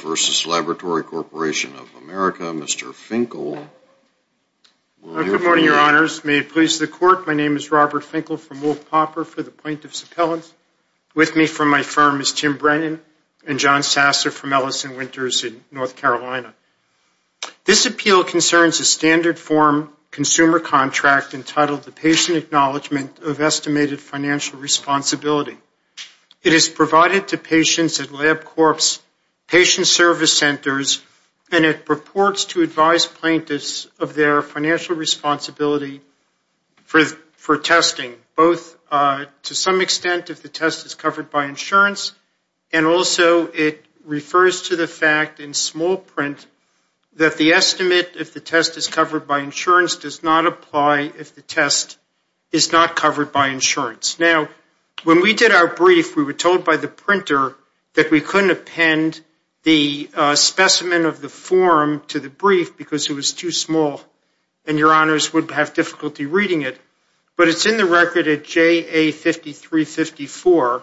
versus Laboratory Corporation of America, Mr. Finkel. Good morning, your honors. May it please the court, my name is Robert Finkel from Wolfe-Popper for the point of suppellants. With me from my firm is Tim Brennan and John Sasser from Ellison Winters in North Carolina. This appeal concerns a standard form consumer contract entitled the Patient Acknowledgement of Estimated Financial Responsibility. It is provided to patient service centers and it purports to advise plaintiffs of their financial responsibility for testing, both to some extent if the test is covered by insurance and also it refers to the fact in small print that the estimate if the test is covered by insurance does not apply if the test is not covered by insurance. Now, when we did our brief, we were told by the printer that we couldn't append the specimen of the form to the brief because it was too small and your honors would have difficulty reading it. But it's in the record at JA5354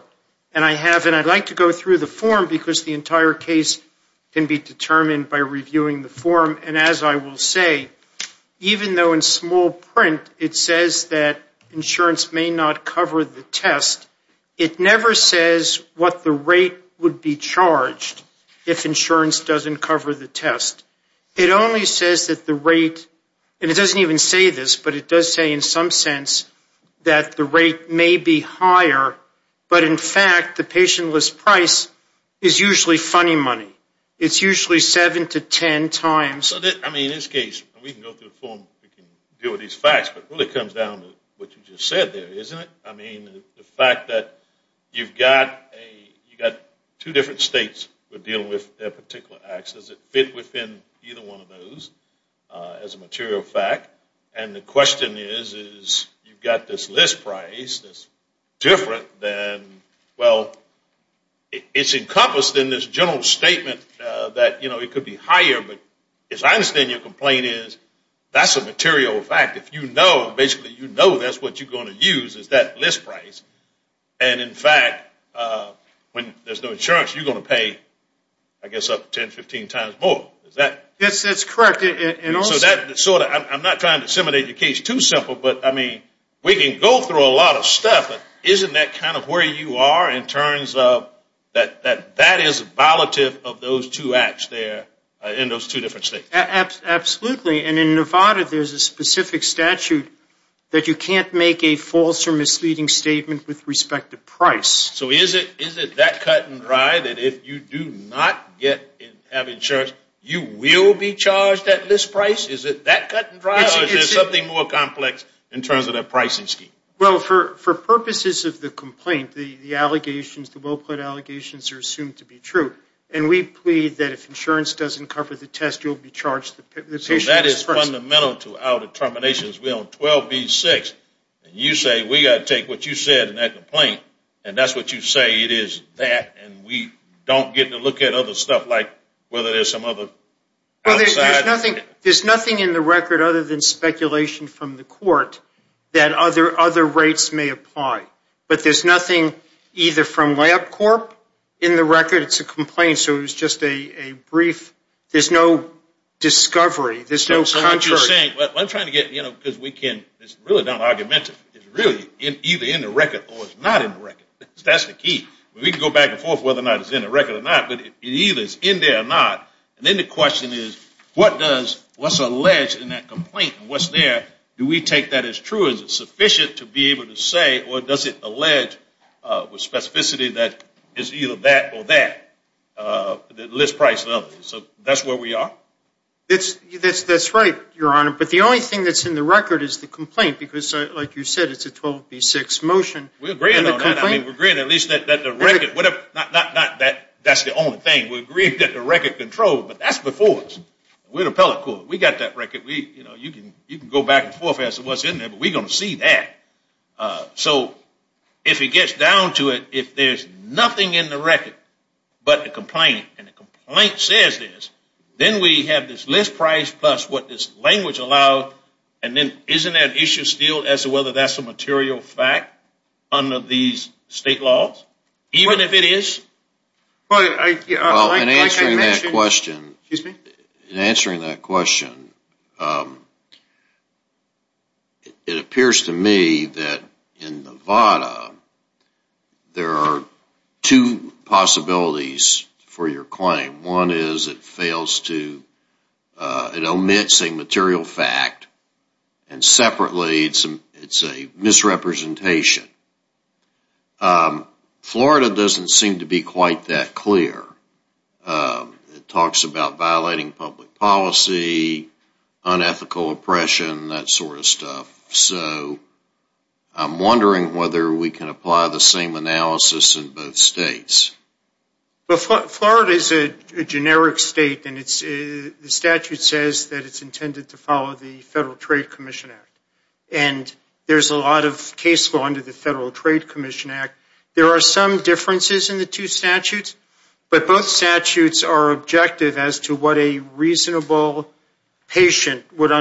and I have and I'd like to go through the form because the entire case can be determined by reviewing the form and as I will say, even though in small print it says that insurance may not cover the test, it never says what the rate would be charged if insurance doesn't cover the test. It only says that the rate, and it doesn't even say this, but it does say in some sense that the rate may be higher, but in fact the patient list price is usually funny money. It's usually seven to ten times. I mean in this case, we can go through the form, we can deal with these facts, but it really comes down to what you just said there, isn't it? I mean the fact that you've got two different states that are dealing with their particular acts, does it fit within either one of those as a material fact? And the question is, is you've got this list price that's different than, well, it's encompassed in this general statement that it could be higher, but it's a material fact. If you know, basically you know that's what you're going to use is that list price, and in fact, when there's no insurance, you're going to pay, I guess, up to 10, 15 times more. Is that? Yes, that's correct. So I'm not trying to disseminate your case too simple, but I mean, we can go through a lot of stuff, but isn't that kind of where you are in terms of that that is violative of those two acts there in those two different states? Absolutely, and in Nevada, there's a specific statute that you can't make a false or misleading statement with respect to price. So is it that cut and dry that if you do not have insurance, you will be charged that list price? Is it that cut and dry, or is there something more complex in terms of that pricing scheme? Well, for purposes of the complaint, the allegations, the well-put allegations are assumed to be true, and we plead that if So that is fundamental to our determinations. We're on 12B6, and you say, we've got to take what you said in that complaint, and that's what you say it is that, and we don't get to look at other stuff like whether there's some other outside. Well, there's nothing in the record other than speculation from the court that other rates may apply, but there's nothing either from So what you're saying, what I'm trying to get, you know, because we can't, it's really not argumentative, it's really either in the record or it's not in the record. That's the key. We can go back and forth whether or not it's in the record or not, but it either is in there or not, and then the question is, what does, what's alleged in that complaint, and what's there, do we take that as true? Is it sufficient to be That's right, Your Honor, but the only thing that's in the record is the complaint, because like you said, it's a 12B6 motion. We're agreeing on that. I mean, we're agreeing at least that the record, not that that's the only thing, we're agreeing that the record controlled, but that's before us. We're the appellate court. We got that record. We, you know, you can go back and forth as to what's in there, but we're going to see that. So if it gets down to it, if there's nothing in the record but the complaint, and the complaint says this, then we have this list price plus what this language allowed, and then isn't that issue still as to whether that's a material fact under these state laws, even if it is? Well, in answering that question, it appears to me that in Nevada, there are two possibilities for your claim. One is it fails to, it omits a material fact, and separately, it's a misrepresentation. Florida doesn't seem to be quite that clear. It talks about violating public policy, unethical oppression, that sort of stuff. So I'm wondering whether we can apply the same analysis in both states. Well, Florida is a generic state, and the statute says that it's intended to follow the Federal Trade Commission Act, and there's a lot of case law under the Federal Trade Commission Act. There are some differences in the two statutes, but both statutes are objective as to what a reasonable patient would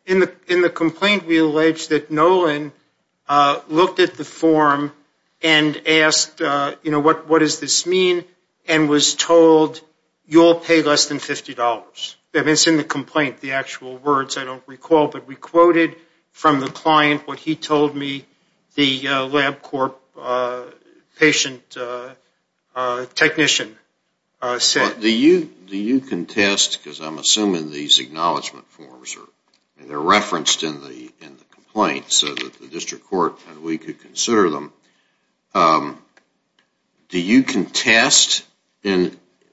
In the complaint, we allege that Nolan looked at the form and asked, you know, what does this mean, and was told, you'll pay less than $50. It's in the complaint, the actual words. I don't recall, but we quoted from the client what he told me the LabCorp patient technician said. Do you contest, because I'm assuming these acknowledgment forms are referenced in the complaint so that the District Court and we could consider them, Do you contest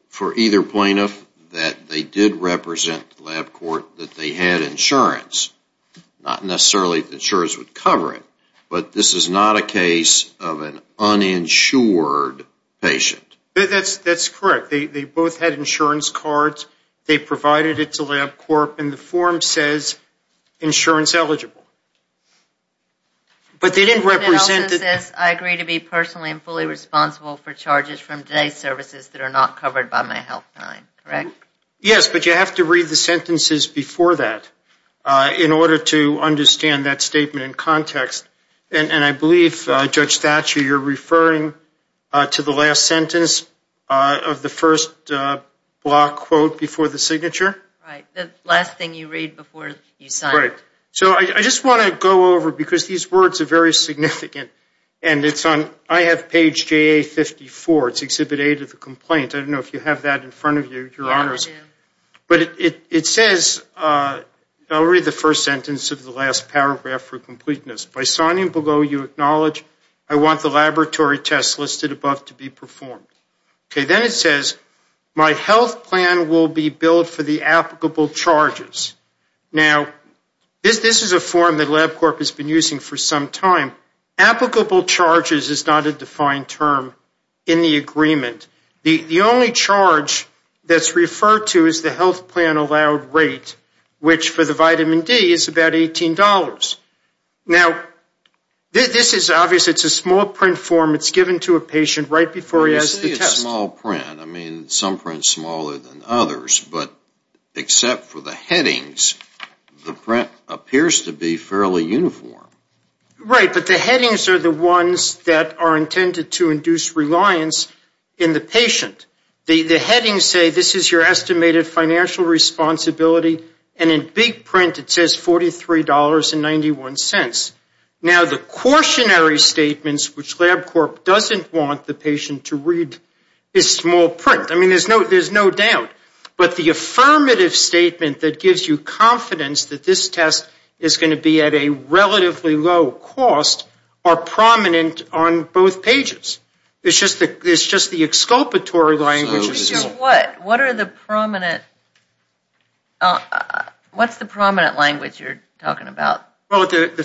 for either plaintiff that they did represent LabCorp, that they had insurance? Not necessarily that insurance would cover it, but this is not a case of an uninsured patient. That's correct. They both had insurance cards. They provided it to LabCorp, and the form says insurance eligible. But they didn't represent... It also says I agree to be personally and fully responsible for charges from today's services that are not covered by my health line, correct? Yes, but you have to read the sentences before that in order to understand that statement in context, and I believe, Judge Thatcher, you're referring to the last sentence of the first block quote before the signature. Right, the last thing you read before you sign it. So I just want to go over, because these words are very significant, and it's on, I have page JA-54, it's Exhibit A to the complaint. I don't know if you have that in front of you, Your Honors. But it says, I'll read the first sentence of the last paragraph for completeness. By signing below, you acknowledge I want the laboratory tests listed above to be performed. Okay, then it says my health plan will be billed for the applicable charges. Now, this is a form that LabCorp has been using for some time. Applicable charges is not a defined term in the agreement. The only charge that's referred to is the health plan allowed rate, which for the vitamin D is about $18. Now, this is obvious. It's a small print form. It's given to a patient right before he has the test. It's a small print. I mean, some prints smaller than others, but except for the headings, the print appears to be fairly uniform. Right, but the headings are the ones that are intended to induce reliance in the patient. The headings say this is your estimated financial responsibility, and in big print it says $43.91. Now, the cautionary statements, which LabCorp doesn't want the patient to read, is small print. I mean, there's no doubt. But the affirmative statement that gives you confidence that this test is going to be at a relatively low cost are prominent on both pages. It's just the exculpatory language is small. What are the prominent, what's the prominent language you're talking about? Well, the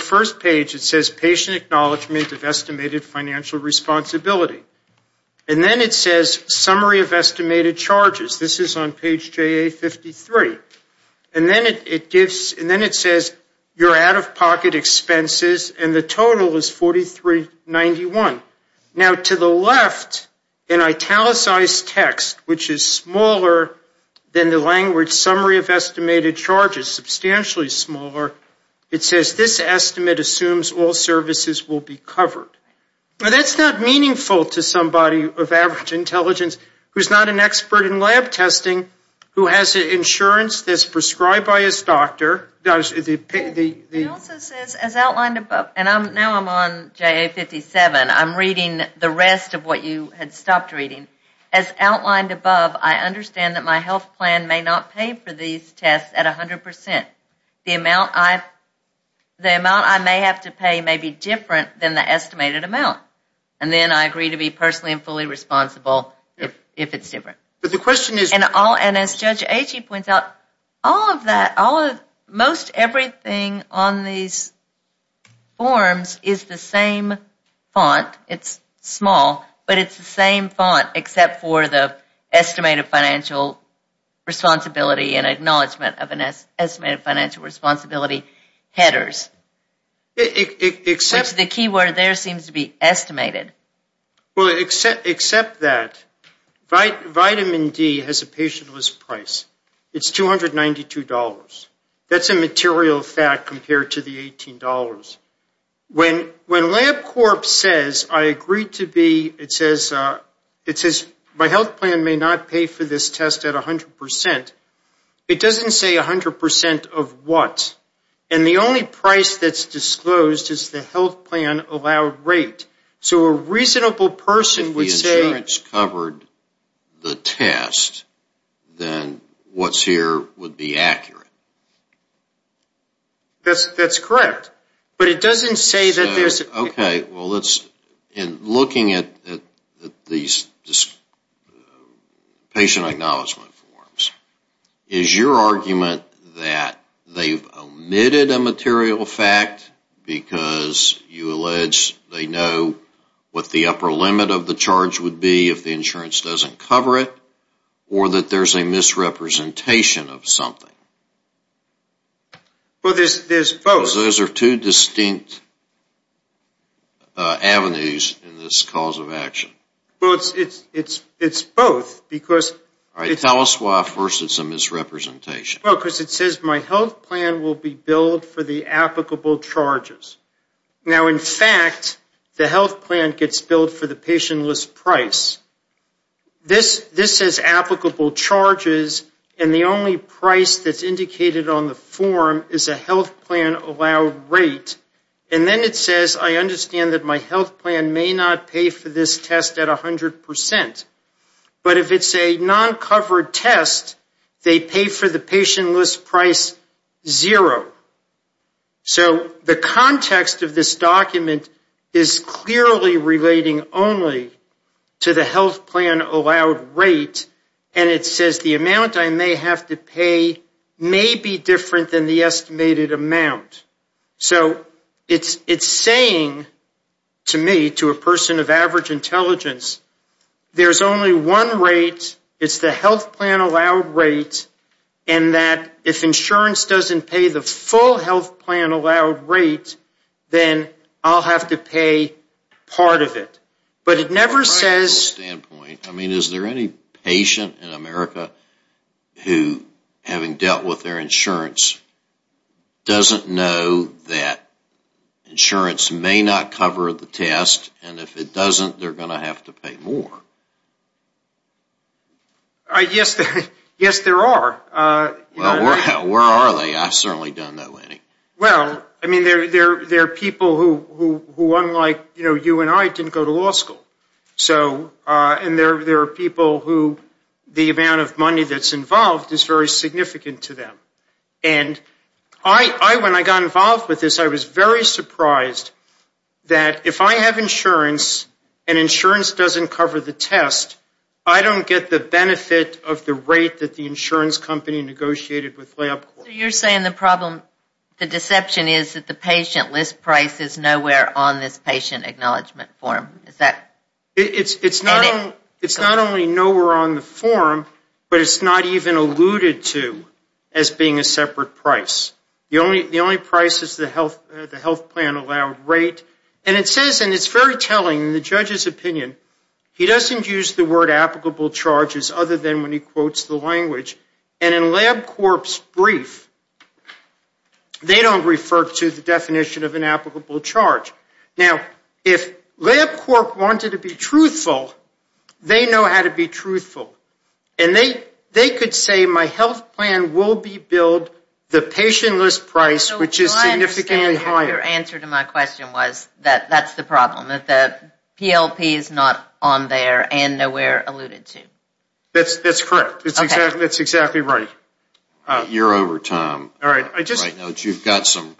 first page, it says patient acknowledgement of estimated financial responsibility. And then it says summary of estimated charges. This is on page JA-53. And then it gives, and then it says your out-of-pocket expenses, and the total is $43.91. Now, to the left, an italicized text, which is smaller than the language summary of estimated charges, substantially smaller. It says this estimate assumes all services will be covered. Now, that's not meaningful to somebody of average intelligence who's not an expert in lab testing, who has insurance that's prescribed by his doctor. It also says, as outlined above, and now I'm on JA-57, I'm reading the rest of what you had stopped reading. As outlined above, I understand that my health plan may not pay for these tests at 100%. The amount I may have to pay may be different than the estimated amount. And then I agree to be personally and fully responsible if it's different. But the question is- And as Judge Agee points out, all of that, most everything on these forms is the same font. It's small, but it's the same font, except for the estimated financial responsibility and acknowledgement of an estimated financial responsibility headers. Except- The key word there seems to be estimated. Well, except that, vitamin D has a patient-less price. It's $292. That's a material fact compared to the $18. When LabCorp says, I agree to be, it says, my health plan may not pay for this test at 100%, it doesn't say 100% of what. And the only price that's disclosed is the health plan allowed rate. So a reasonable person would say- If the insurance covered the test, then what's here would be accurate. That's correct. But it doesn't say that there's- Okay. Well, in looking at these patient acknowledgement forms, is your argument that they've omitted a material fact because you allege they know what the upper limit of the charge would be if the insurance doesn't cover it, or that there's a misrepresentation of something? Well, there's both. Those are two distinct avenues in this cause of action. Well, it's both because- All right. Tell us why, first, it's a misrepresentation. Well, because it says, my health plan will be billed for the applicable charges. Now, in fact, the health plan gets billed for the patient-less price. This says applicable charges, and the only price that's indicated on the form is a health plan allowed rate, and then it says, I understand that my health plan may not pay for this test at 100%, but if it's a non-covered test, they pay for the patient-less price zero. So the context of this document is clearly relating only to the health plan allowed rate, and it says the amount I may have to pay may be different than the estimated amount. So it's saying to me, to a person of average intelligence, there's only one rate, it's the health plan allowed rate, and that if insurance doesn't pay the full health plan allowed rate, then I'll have to pay part of it. But it never says- A patient in America who, having dealt with their insurance, doesn't know that insurance may not cover the test, and if it doesn't, they're going to have to pay more. Yes, there are. Well, where are they? I certainly don't know any. Well, I mean, there are people who, unlike you and I, didn't go to law school. So, and there are people who the amount of money that's involved is very significant to them. And I, when I got involved with this, I was very surprised that if I have insurance, and insurance doesn't cover the test, I don't get the benefit of the rate that the insurance company negotiated with LabCorp. You're saying the problem, the deception is that the patient-less price is nowhere on this patient acknowledgment form. Is that- It's not only nowhere on the form, but it's not even alluded to as being a separate price. The only price is the health plan allowed rate. And it says, and it's very telling in the judge's opinion, he doesn't use the word applicable charges other than when he quotes the language. And in LabCorp's brief, they don't refer to the definition of an applicable charge. Now, if LabCorp wanted to be truthful, they know how to be truthful. And they could say my health plan will be billed the patient-less price, which is significantly higher. Your answer to my question was that that's the problem, that the PLP is not on there and nowhere alluded to. That's correct. That's exactly right. You're over time. All right. You've got some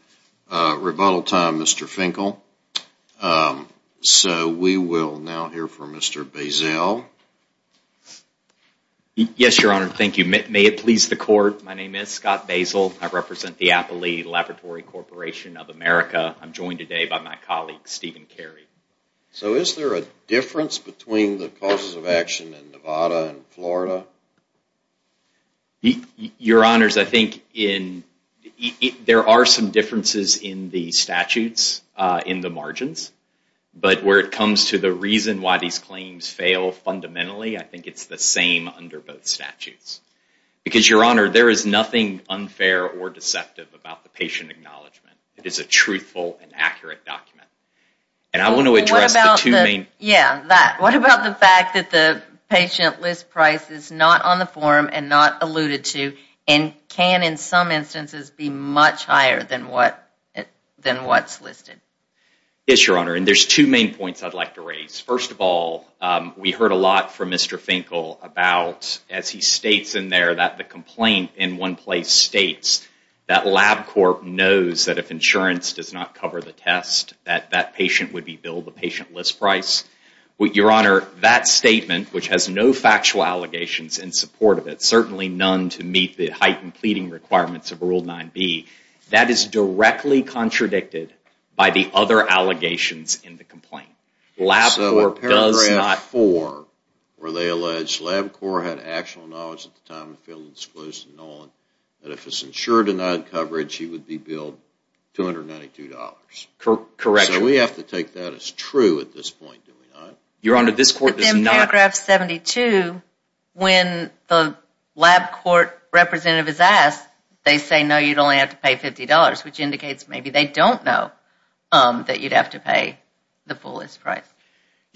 rebuttal time, Mr. Finkel. So we will now hear from Mr. Bazell. Yes, Your Honor. Thank you. May it please the court. My name is Scott Bazell. I represent the Appley Laboratory Corporation of America. I'm joined today by my colleague, Stephen Carey. So is there a difference between the causes of action in Nevada and Florida? Your Honors, I think there are some differences in the statutes in the margins. But where it comes to the reason why these claims fail fundamentally, I think it's the same under both statutes. Because, Your Honor, there is nothing unfair or deceptive about the patient acknowledgement. It is a truthful and accurate document. And I want to address the two main... What about the fact that the patient list price is not on the form and not alluded to and can, in some instances, be much higher than what's listed? Yes, Your Honor. And there's two main points I'd like to raise. First of all, we heard a lot from Mr. Finkel about, as he states in there, that the complaint in one place states that LabCorp knows that if insurance does not cover the test, that patient would be billed the patient list price. Your Honor, that statement, which has no factual allegations in support of it, certainly none to meet the heightened pleading requirements of Rule 9b, that is directly contradicted by the other allegations in the complaint. LabCorp does not... So in paragraph 4, where they allege LabCorp had actual knowledge at the time and failed to disclose to Nolan that if his insurer denied coverage, he would be billed $292. Correct. So we have to take that as true at this point, do we not? Your Honor, this court does not... But then paragraph 72, when the LabCorp representative is asked, they say, no, you'd only have to pay $50, which indicates maybe they don't know that you'd have to pay the fullest price.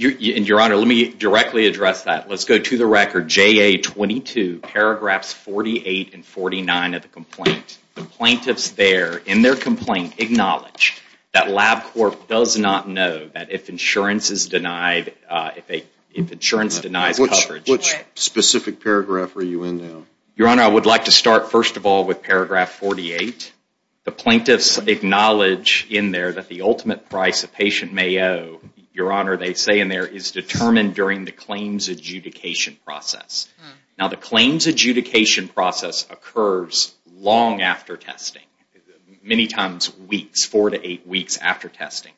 And Your Honor, let me directly address that. Let's go to the record, JA-22, paragraphs 48 and 49 of the complaint. The plaintiffs there, in their complaint, acknowledge that LabCorp does not know that if insurance is denied, if insurance denies coverage... Which specific paragraph are you in now? Your Honor, I would like to start, first of all, with paragraph 48. The plaintiffs acknowledge in there that the ultimate price a patient may owe, Your Honor, they say in there, is determined during the claims adjudication process. Now, the claims adjudication process occurs long after testing, many times weeks, four to eight weeks after testing.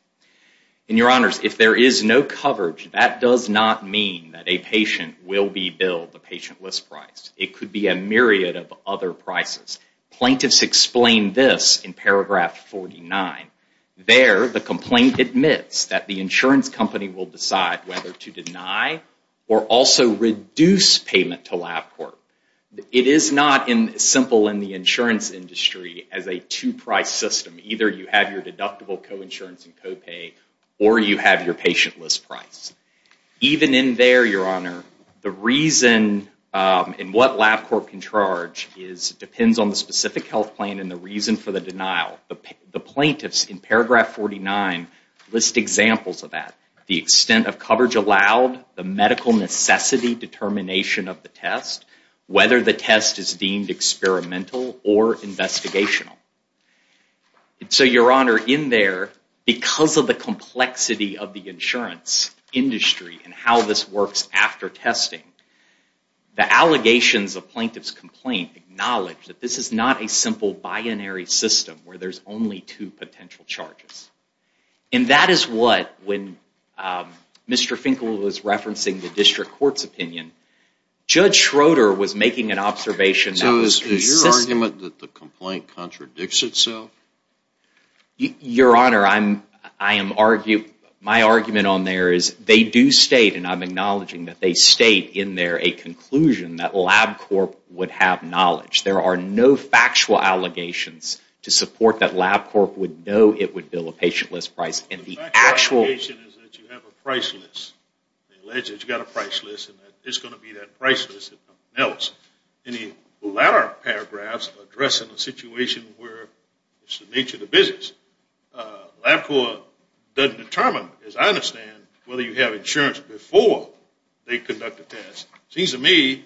And Your Honors, if there is no coverage, that does not mean that a patient will be billed the patient list price. It could be a myriad of other prices. Plaintiffs explain this in paragraph 49. There, the complaint admits that the insurance company will decide whether to deny or also reduce payment to LabCorp. It is not simple in the insurance industry as a two-price system. Either you have your deductible coinsurance and copay, or you have your patient list price. Even in there, Your Honor, the reason and what LabCorp can charge depends on the specific health plan and the reason for the denial. The plaintiffs, in paragraph 49, list examples of that. The extent of coverage allowed, the medical necessity determination of the test, whether the test is deemed experimental or investigational. So, Your Honor, in there, because of the complexity of the insurance industry and how this works after testing, the allegations of plaintiff's complaint acknowledge that this is not a simple binary system where there's only two potential charges. And that is what, when Mr. Finkel was referencing the district court's opinion, Judge Schroeder was making an observation. So, is your argument that the complaint contradicts itself? Your Honor, I am arguing, my argument on there is they do state, and I'm acknowledging that they state in there, a conclusion that LabCorp would have knowledge. There are no factual allegations to support that LabCorp would know it would bill a patient list price. The factual allegation is that you have a price list. They allege that you've got a price list and that it's going to be that price list that counts. In the latter paragraphs, addressing the situation where it's the nature of the business, LabCorp doesn't determine, as I understand, whether you have insurance before they conduct a test. It seems to me,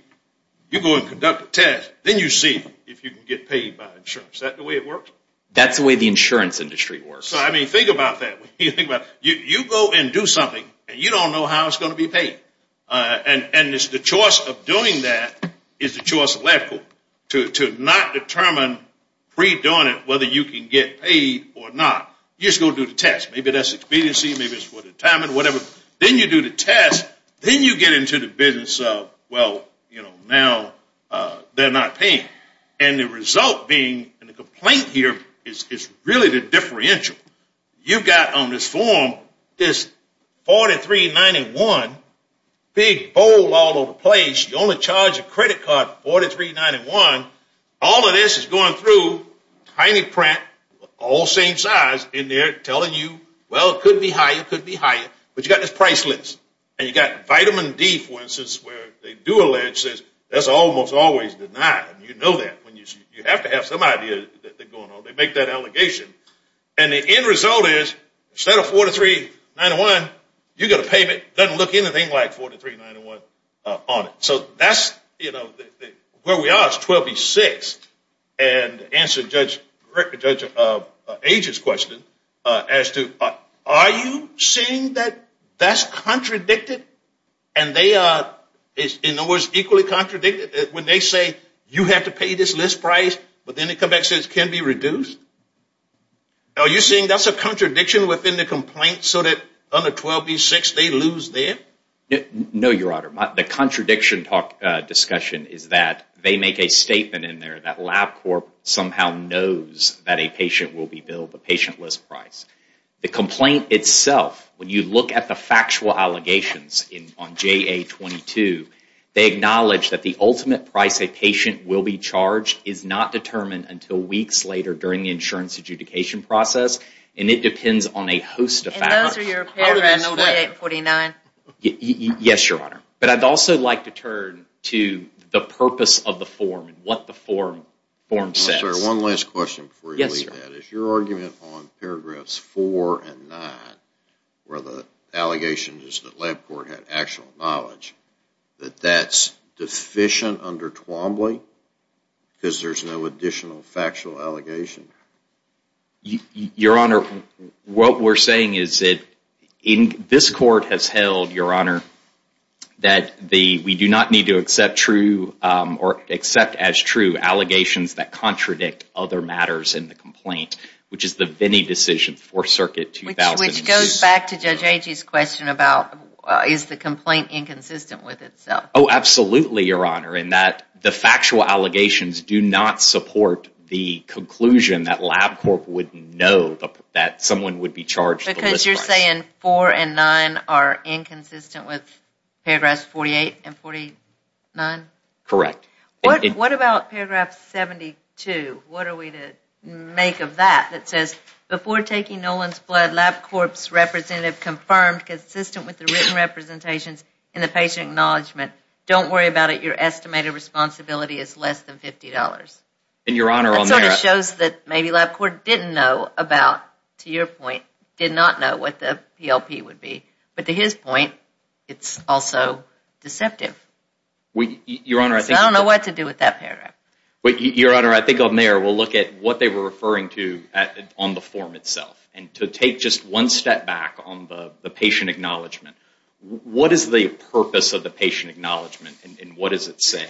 you go and conduct a test, then you see if you can get paid by insurance. Is that the way it works? That's the way the insurance industry works. So, I mean, think about that. You go and do something, and you don't know how it's going to be paid. And it's the choice of doing that is the choice of LabCorp to not determine, pre-doing it, whether you can get paid or not. You're just going to do the test. Maybe that's expediency, maybe it's for the time and whatever. Then you do the test. Then you get into the business of, well, now they're not paying. And the result being, and the complaint here, is really the differential. You've got on this form this $43.91, big bowl all over the place. You only charge a credit card for $43.91. All of this is going through, tiny print, all the same size, and they're telling you, well, it could be higher, could be higher. But you've got this price list. And you've got vitamin D, for instance, where they do allege this. That's almost always denied. You know that. You have to have some idea that they're going on. They make that allegation. And the end result is, instead of $43.91, you get a payment that doesn't look anything like $43.91 on it. So that's, you know, where we are is 12B6. And answer Judge Age's question as to, are you saying that that's contradicted? And they are, in other words, equally contradicted? When they say, you have to pay this list price, but then it comes back and says, can it be reduced? Are you saying that's a contradiction within the complaint so that under 12B6, they lose there? No, Your Honor. The contradiction discussion is that they make a statement in there that LabCorp somehow knows that a patient will be billed the patient list price. The complaint itself, when you look at the factual allegations on JA-22, they acknowledge that the ultimate price a patient will be charged is not determined until weeks later during the insurance adjudication process. And it depends on a host of factors. And those are your program, no way 849? Yes, Your Honor. I'd also like to turn to the purpose of the form and what the form says. I'm sorry, one last question before you leave that. Is your argument on paragraphs 4 and 9, where the allegation is that LabCorp had actual knowledge, that that's deficient under Twombly because there's no additional factual allegation? Your Honor, what we're saying is that this court has held, Your Honor, that we do not need to accept true or accept as true allegations that contradict other matters in the complaint, which is the Vinnie decision for Circuit 2000. Which goes back to Judge Agee's question about is the complaint inconsistent with itself? Oh, absolutely, Your Honor. The factual allegations do not support the conclusion that LabCorp would know that someone would be charged. Because you're saying 4 and 9 are inconsistent with paragraphs 48 and 49? Correct. What about paragraph 72? What are we to make of that? That says, before taking Nolan's blood, LabCorp's representative confirmed consistent with the written representations in the patient acknowledgement. Don't worry about it. Your estimated responsibility is less than $50. And, Your Honor, on there... That sort of shows that maybe LabCorp didn't know about, to your point, did not know what the PLP would be. But to his point, it's also deceptive. Your Honor, I think... I don't know what to do with that paragraph. But, Your Honor, I think on there, we'll look at what they were referring to on the form itself. And to take just one step back on the patient acknowledgement, what is the purpose of the acknowledgement and what does it say?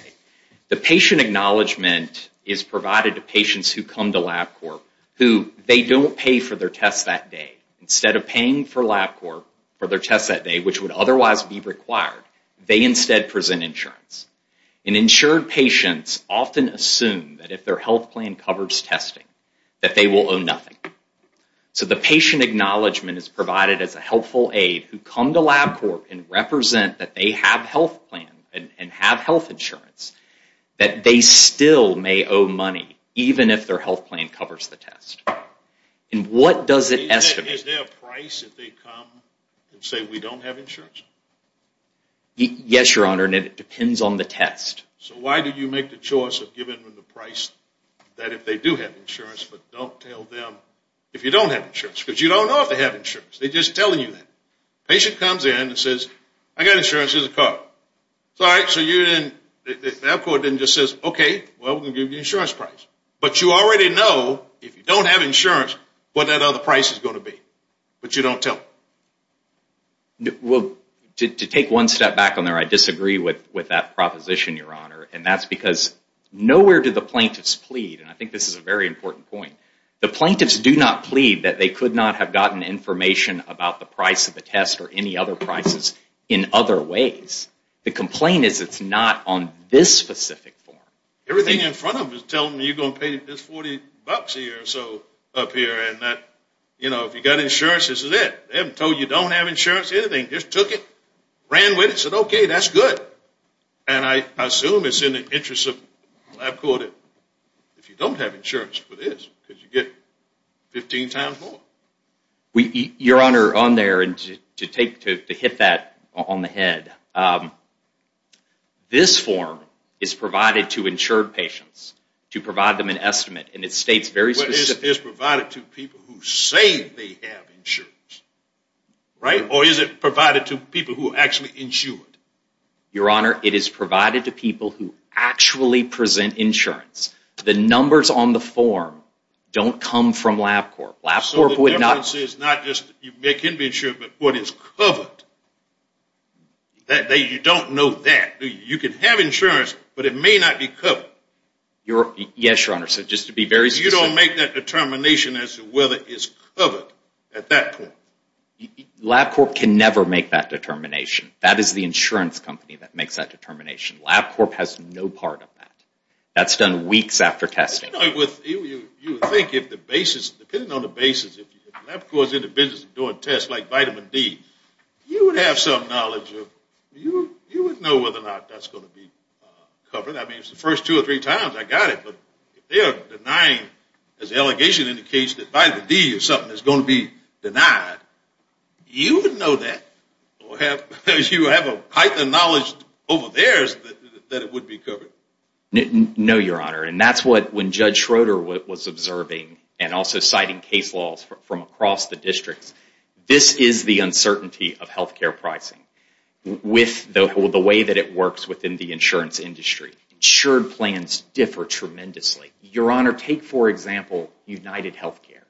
The patient acknowledgement is provided to patients who come to LabCorp who they don't pay for their tests that day. Instead of paying for LabCorp for their tests that day, which would otherwise be required, they instead present insurance. And insured patients often assume that if their health plan covers testing, that they will owe nothing. So the patient acknowledgement is provided as a helpful aid who come to LabCorp and represent that they have health plan and have health insurance, that they still may owe money, even if their health plan covers the test. And what does it estimate? Is there a price if they come and say, we don't have insurance? Yes, Your Honor, and it depends on the test. So why did you make the choice of giving them the price that if they do have insurance, but don't tell them if you don't have insurance? Because you don't know if they have insurance. They're just telling you that. Patient comes in and says, I got insurance, here's a card. It's all right. So LabCorp then just says, OK, well, we're going to give you the insurance price. But you already know if you don't have insurance what that other price is going to be. But you don't tell them. Well, to take one step back on there, I disagree with that proposition, Your Honor. And that's because nowhere do the plaintiffs plead. And I think this is a very important point. The plaintiffs do not plead that they could not have gotten information about the price of the test or any other prices in other ways. The complaint is it's not on this specific form. Everything in front of them is telling them you're going to pay this $40 a year or so up here. And that if you've got insurance, this is it. They haven't told you don't have insurance or anything. Just took it, ran with it, said, OK, that's good. And I assume it's in the interest of LabCorp that if you don't have insurance for this, you get 15 times more. Your Honor, on there, and to hit that on the head, this form is provided to insured patients to provide them an estimate. And it states very specific. It's provided to people who say they have insurance, right? Or is it provided to people who are actually insured? Your Honor, it is provided to people who actually present insurance. The numbers on the form don't come from LabCorp. So the difference is not just they can be insured, but what is covered. You don't know that. You can have insurance, but it may not be covered. Yes, Your Honor. So just to be very specific. You don't make that determination as to whether it's covered at that point. LabCorp can never make that determination. That is the insurance company that makes that determination. LabCorp has no part of that. That's done weeks after testing. You know, you would think if the basis, depending on the basis, if LabCorp is in the business of doing tests like vitamin D, you would have some knowledge of, you would know whether or not that's going to be covered. I mean, it's the first two or three times I got it. But if they are denying, as the allegation indicates, that vitamin D or something is going to be denied, you would know that or have, you have a heightened knowledge over theirs that it would be covered. No, Your Honor. And that's what, when Judge Schroeder was observing and also citing case laws from across the districts, this is the uncertainty of health care pricing with the way that it works within the insurance industry. Insured plans differ tremendously. Your Honor, take, for example, UnitedHealthcare.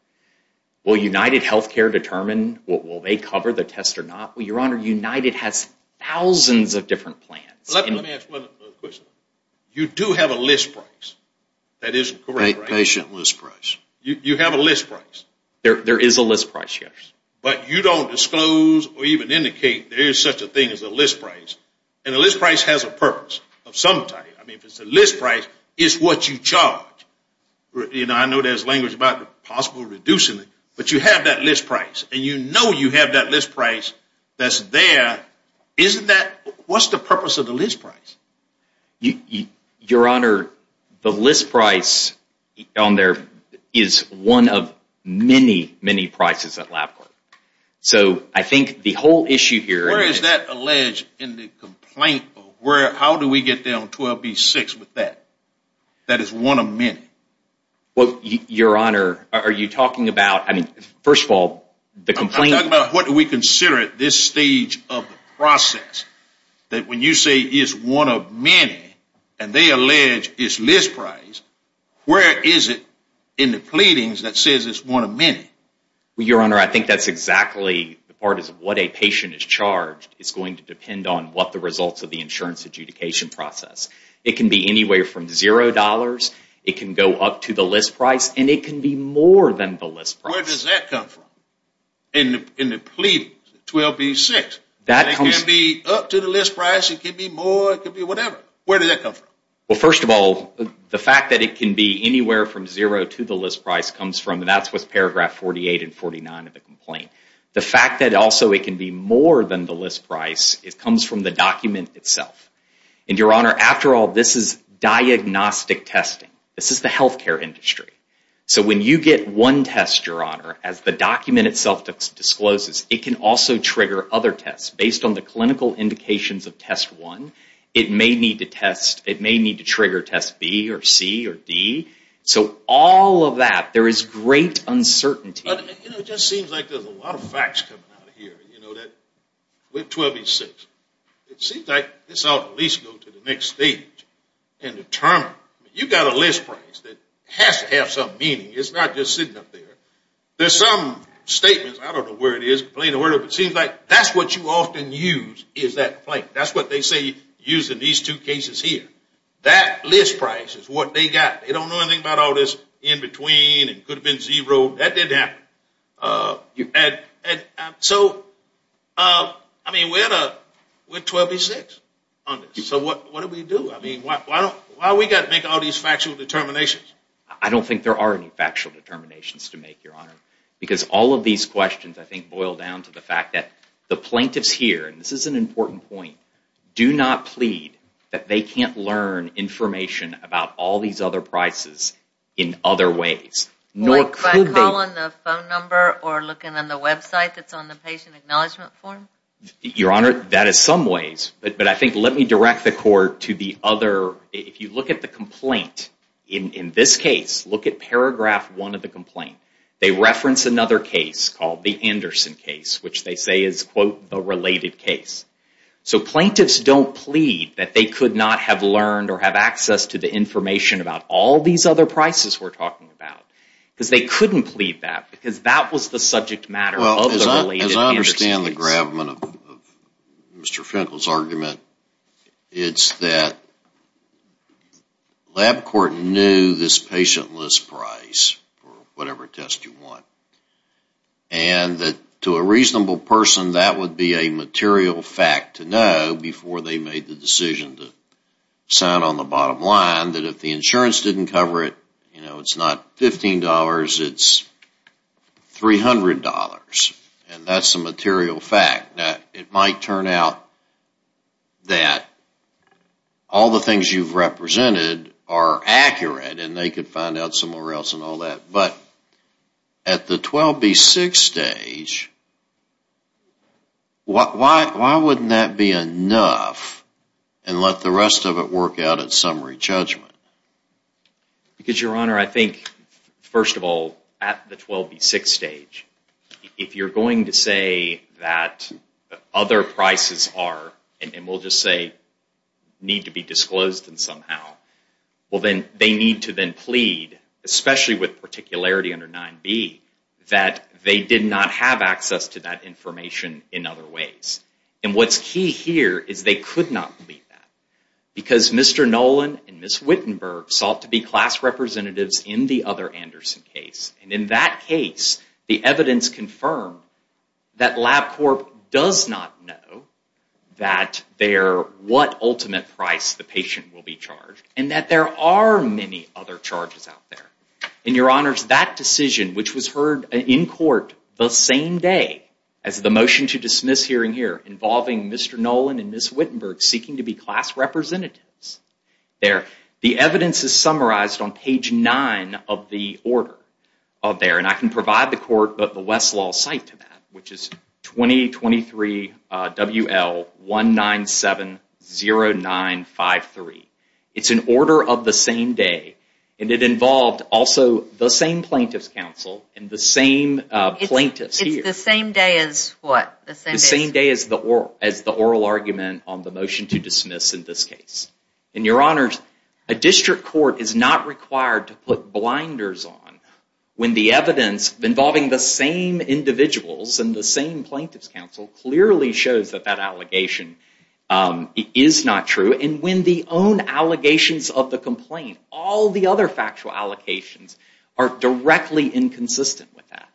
Will UnitedHealthcare determine, will they cover the test or not? Well, Your Honor, United has thousands of different plans. Let me ask one question. You do have a list price. That is correct, right? Patient list price. You have a list price. There is a list price, yes. But you don't disclose or even indicate there is such a thing as a list price. And a list price has a purpose of some type. I mean, if it's a list price, it's what you charge. You know, I know there's language about the possible reducing it. But you have that list price. And you know you have that list price that's there. Isn't that, what's the purpose of the list price? Your Honor, the list price on there is one of many, many prices at LabCorp. So I think the whole issue here. Where is that alleged in the complaint? How do we get there on 12B6 with that? That is one of many. Well, Your Honor, are you talking about, I mean, first of all, the complaint. What do we consider at this stage of the process? That when you say it's one of many, and they allege it's list price. Where is it in the pleadings that says it's one of many? Your Honor, I think that's exactly the part of what a patient is charged. It's going to depend on what the results of the insurance adjudication process. It can be anywhere from zero dollars. It can go up to the list price. And it can be more than the list price. Where does that come from? In the pleadings, 12B6, it can be up to the list price. It can be more. It could be whatever. Where does that come from? Well, first of all, the fact that it can be anywhere from zero to the list price comes from, and that's what's paragraph 48 and 49 of the complaint. The fact that also it can be more than the list price, it comes from the document itself. And Your Honor, after all, this is diagnostic testing. This is the healthcare industry. So when you get one test, Your Honor, as the document itself discloses, it can also trigger other tests based on the clinical indications of test one. It may need to test, it may need to trigger test B or C or D. So all of that, there is great uncertainty. But you know, it just seems like there's a lot of facts coming out of here. You know that with 12B6, it seems like this ought to at least go to the next stage and determine, you've got a list price that has to have some meaning. It's not just sitting up there. There's some statements, I don't know where it is, complaint or whatever, but it seems like that's what you often use is that complaint. That's what they say used in these two cases here. That list price is what they got. They don't know anything about all this in between and could have been zero. That didn't happen. So I mean, we're at 12B6 on this. So what do we do? Why we got to make all these factual determinations? I don't think there are any factual determinations to make, Your Honor. Because all of these questions, I think, boil down to the fact that the plaintiffs here, and this is an important point, do not plead that they can't learn information about all these other prices in other ways. Like by calling the phone number or looking on the website that's on the patient acknowledgement form? Your Honor, that is some ways. But I think, let me direct the court to the other, if you look at the complaint, in this case, look at paragraph one of the complaint. They reference another case called the Anderson case, which they say is, quote, the related case. So plaintiffs don't plead that they could not have learned or have access to the information about all these other prices we're talking about. Because they couldn't plead that because that was the subject matter of the related case. As I understand the gravamen of Mr. Finkel's argument, it's that LabCorp knew this patient list price for whatever test you want. And that to a reasonable person, that would be a material fact to know before they made the decision to sign on the bottom line that if the insurance didn't cover it, you know, it's not $15, it's $300. And that's a material fact. Now, it might turn out that all the things you've represented are accurate and they could find out somewhere else and all that. But at the 12B6 stage, why wouldn't that be enough and let the rest of it work out at summary judgment? Because, Your Honor, I think, first of all, at the 12B6 stage, if you're going to say that other prices are, and we'll just say need to be disclosed somehow, well, then they need to then plead, especially with particularity under 9B, that they did not have access to that information in other ways. And what's key here is they could not plead that. Because Mr. Nolan and Ms. Wittenberg sought to be class representatives in the other Anderson case. And in that case, the evidence confirmed that LabCorp does not know what ultimate price the patient will be charged and that there are many other charges out there. And, Your Honors, that decision, which was heard in court the same day as the motion to dismiss hearing here involving Mr. Nolan and Ms. Wittenberg seeking to be class representatives, the evidence is summarized on page 9 of the order there. And I can provide the Westlaw site to that, which is 2023 WL1970953. It's an order of the same day, and it involved also the same plaintiff's counsel and the same plaintiffs here. The same day as what? The same day as the oral argument on the motion to dismiss in this case. And, Your Honors, a district court is not required to put blinders on when the evidence involving the same individuals and the same plaintiffs' counsel clearly shows that that allegation is not true. And when the own allegations of the complaint, all the other factual allocations, are directly inconsistent with that.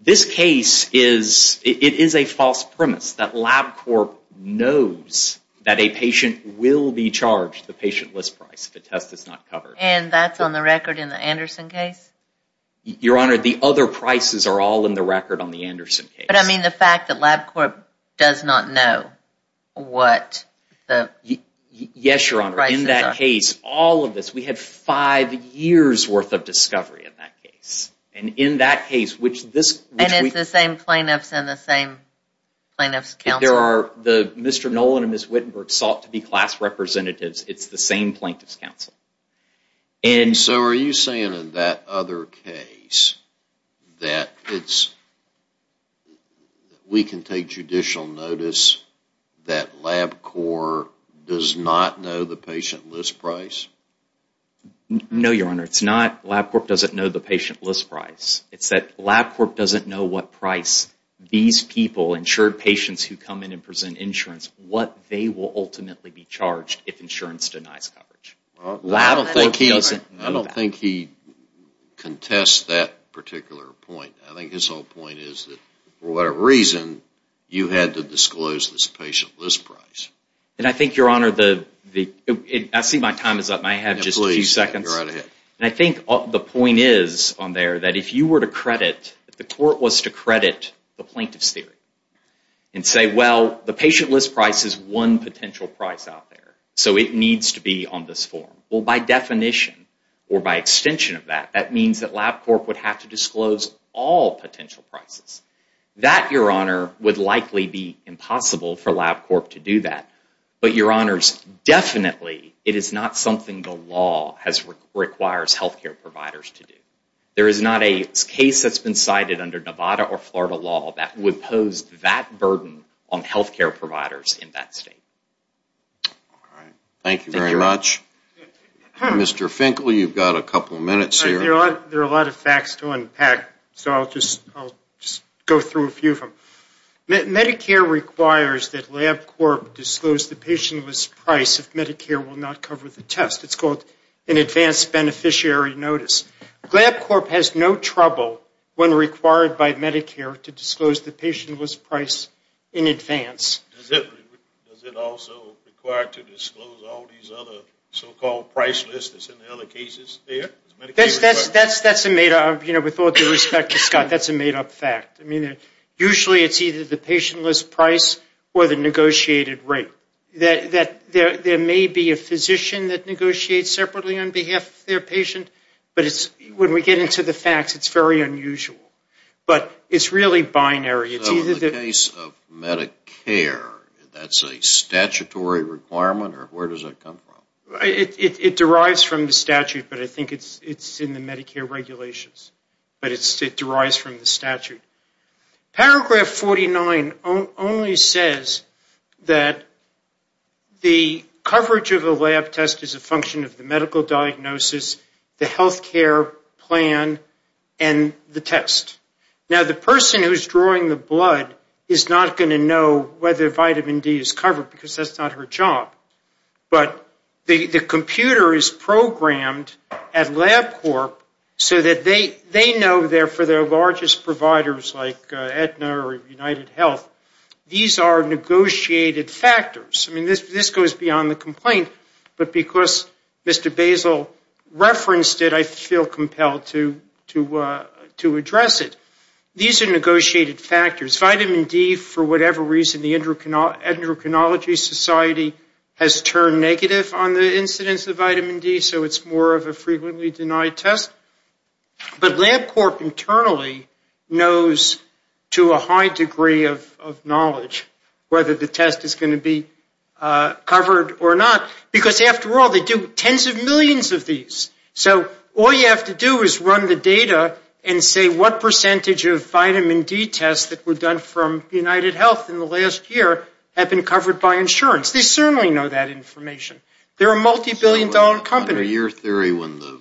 This case is, it is a false premise that LabCorp knows that a patient will be charged the patient list price if the test is not covered. And that's on the record in the Anderson case? Your Honor, the other prices are all in the record on the Anderson case. But I mean the fact that LabCorp does not know what the prices are. Yes, Your Honor. In that case, all of this, we had five years' worth of discovery in that case. And in that case, which this... And it's the same plaintiffs and the same plaintiffs' counsel? There are, Mr. Nolan and Ms. Wittenberg sought to be class representatives. It's the same plaintiffs' counsel. And so are you saying in that other case that it's, we can take judicial notice that LabCorp does not know the patient list price? No, Your Honor. It's not LabCorp doesn't know the patient list price. It's that LabCorp doesn't know what price these people, insured patients who come in and present insurance, what they will ultimately be charged if insurance denies coverage. I don't think he contests that particular point. I think his whole point is that for whatever reason, you had to disclose this patient list price. And I think, Your Honor, I see my time is up and I have just a few seconds. And I think the point is on there that if you were to credit, if the court was to credit the plaintiff's theory and say, well, the patient list price is one potential price out there. So it needs to be on this form. Well, by definition or by extension of that, that means that LabCorp would have to disclose all potential prices. That, Your Honor, would likely be impossible for LabCorp to do that. But, Your Honors, definitely it is not something the law requires health care providers to do. There is not a case that's been cited under Nevada or Florida law that would pose that burden on health care providers in that state. All right. Thank you very much. Mr. Finkel, you've got a couple of minutes here. There are a lot of facts to unpack. So I'll just go through a few of them. Medicare requires that LabCorp disclose the patient list price if Medicare will not cover the test. It's called an advanced beneficiary notice. LabCorp has no trouble when required by Medicare to disclose the patient list price in advance. Does it also require to disclose all these other so-called price lists that's in the other cases there? That's a made-up, you know, with all due respect to Scott, that's a made-up fact. Usually it's either the patient list price or the negotiated rate. There may be a physician that negotiates separately on behalf of their patient, but when we get into the facts, it's very unusual. But it's really binary. So in the case of Medicare, that's a statutory requirement, or where does that come from? It derives from the statute, but I think it's in the Medicare regulations. But it derives from the statute. Paragraph 49 only says that the coverage of a lab test is a function of the medical diagnosis, the health care plan, and the test. Now, the person who's drawing the blood is not going to know whether vitamin D is covered, because that's not her job. But the computer is programmed at LabCorp so that they know they're for their largest providers like Aetna or UnitedHealth. These are negotiated factors. I mean, this goes beyond the complaint, but because Mr. Basil referenced it, I feel compelled to address it. These are negotiated factors. Vitamin D, for whatever reason, the Endocrinology Society has turned negative on the incidence of vitamin D, so it's more of a frequently denied test. But LabCorp internally knows to a high degree of knowledge whether the test is going to be covered or not, because after all, they do tens of millions of these. So all you have to do is run the data and say what percentage of vitamin D tests that were done from UnitedHealth in the last year have been covered by insurance. They certainly know that information. They're a multibillion-dollar company. Your theory, when the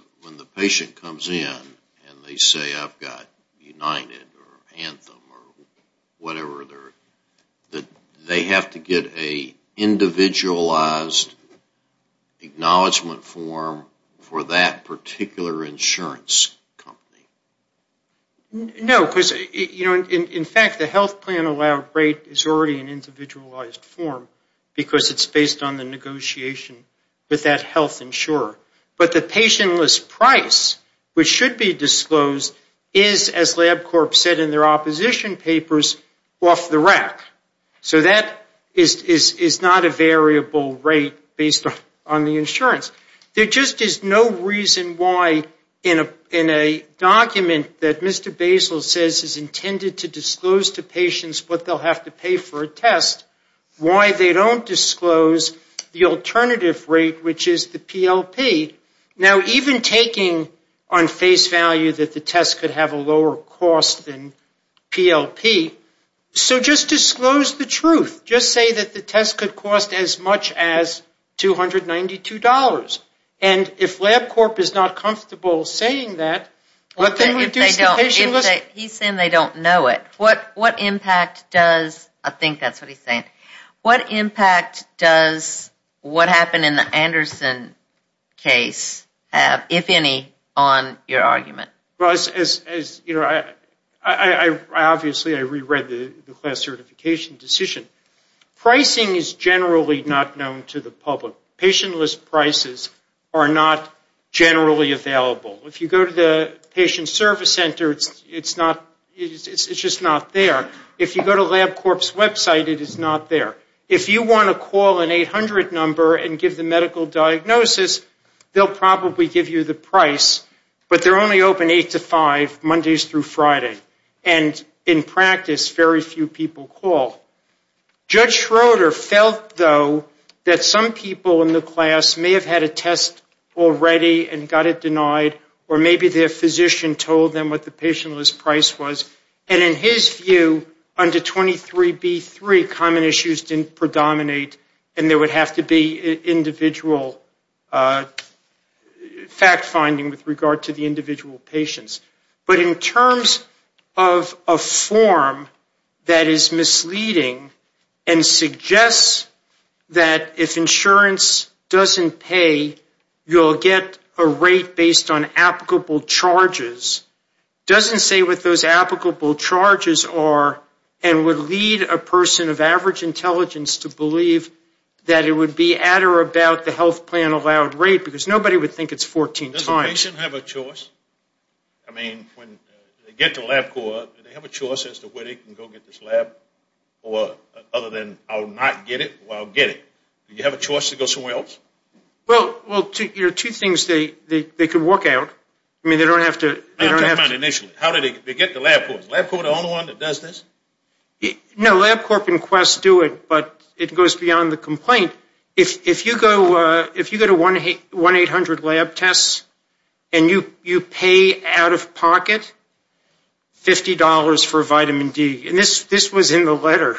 patient comes in and they say, I've got United or Anthem or whatever, that they have to get an individualized acknowledgement form for that particular insurance company? No, because, you know, in fact, the health plan allowed rate is already an individualized form, because it's based on the negotiation with that health insurer. But the patientless price, which should be disclosed, is, as LabCorp said in their opposition papers, off the rack. So that is not a variable rate based on the insurance. There just is no reason why in a document that Mr. Basil says is intended to disclose to patients what they'll have to pay for a test, why they don't disclose the alternative rate, which is the PLP. Now, even taking on face value that the test could have a lower cost than PLP, so just disclose the truth. Just say that the test could cost as much as $292. And if LabCorp is not comfortable saying that, what they would do is the patientless He's saying they don't know it. What impact does, I think that's what he's saying, what impact does what happened in the Anderson case have, if any, on your argument? Well, as, you know, I obviously, I reread the class certification decision. Pricing is generally not known to the public. Patientless prices are not generally available. If you go to the patient service center, it's not, it's just not there. If you go to LabCorp's website, it is not there. If you want to call an 800 number and give the medical diagnosis, they'll probably give you the price. But they're only open 8 to 5, Mondays through Friday. And in practice, very few people call. Judge Schroeder felt, though, that some people in the class may have had a test already and got it denied, or maybe their physician told them what the patientless price was. And in his view, under 23B3, common issues didn't predominate and there would have to be individual fact finding with regard to the individual patients. But in terms of a form that is misleading and suggests that if insurance doesn't pay, you'll get a rate based on applicable charges, doesn't say what those applicable charges are and would lead a person of average intelligence to believe that it would be at or about the health plan allowed rate, because nobody would think it's 14 times. Does the patient have a choice? I mean, when they get to LabCorp, do they have a choice as to where they can go get this lab, or other than I'll not get it, or I'll get it? Do you have a choice to go somewhere else? Well, there are two things they could work out. I mean, they don't have to... I'm talking about initially. How do they get to LabCorp? Is LabCorp the only one that does this? No, LabCorp and Quest do it, but it goes beyond the complaint. If you go to 1-800-LAB-TESTS and you pay out of pocket $50 for vitamin D, and this was in the letter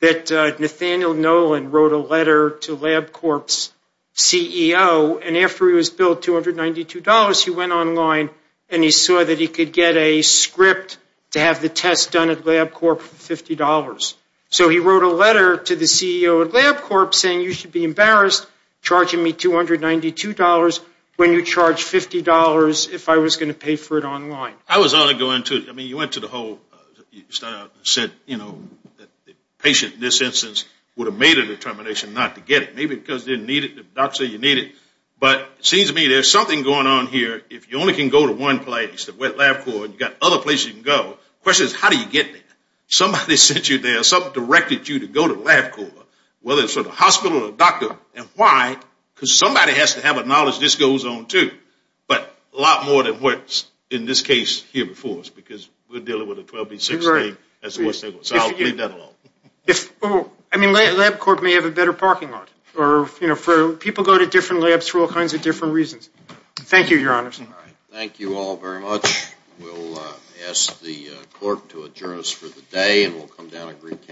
that Nathaniel Nolan wrote a letter to LabCorp's CEO, and after he was billed $292, he went online and he saw that he could get a script to have the test done at LabCorp for $50. So he wrote a letter to the CEO at LabCorp saying you should be embarrassed charging me $292 when you charge $50 if I was going to pay for it online. I was only going to... I mean, you went to the whole... You started out and said, you know, that the patient in this instance would have made a determination not to get it. Maybe because they didn't need it. The doctor said you need it. But it seems to me there's something going on here. If you only can go to one place at LabCorp and you've got other places you can go, the question is how do you get there? Somebody sent you there. Something directed you to go to LabCorp, whether it's at a hospital or a doctor. And why? Because somebody has to have a knowledge this goes on too. But a lot more than what's in this case here before us. Because we're dealing with a 12-week, six-week. That's what they want. So I'll leave that alone. I mean, LabCorp may have a better parking lot. Or, you know, people go to different labs for all kinds of different reasons. Thank you, Your Honor. Thank you all very much. We'll ask the court to adjourn us for the day and we'll come down and recount.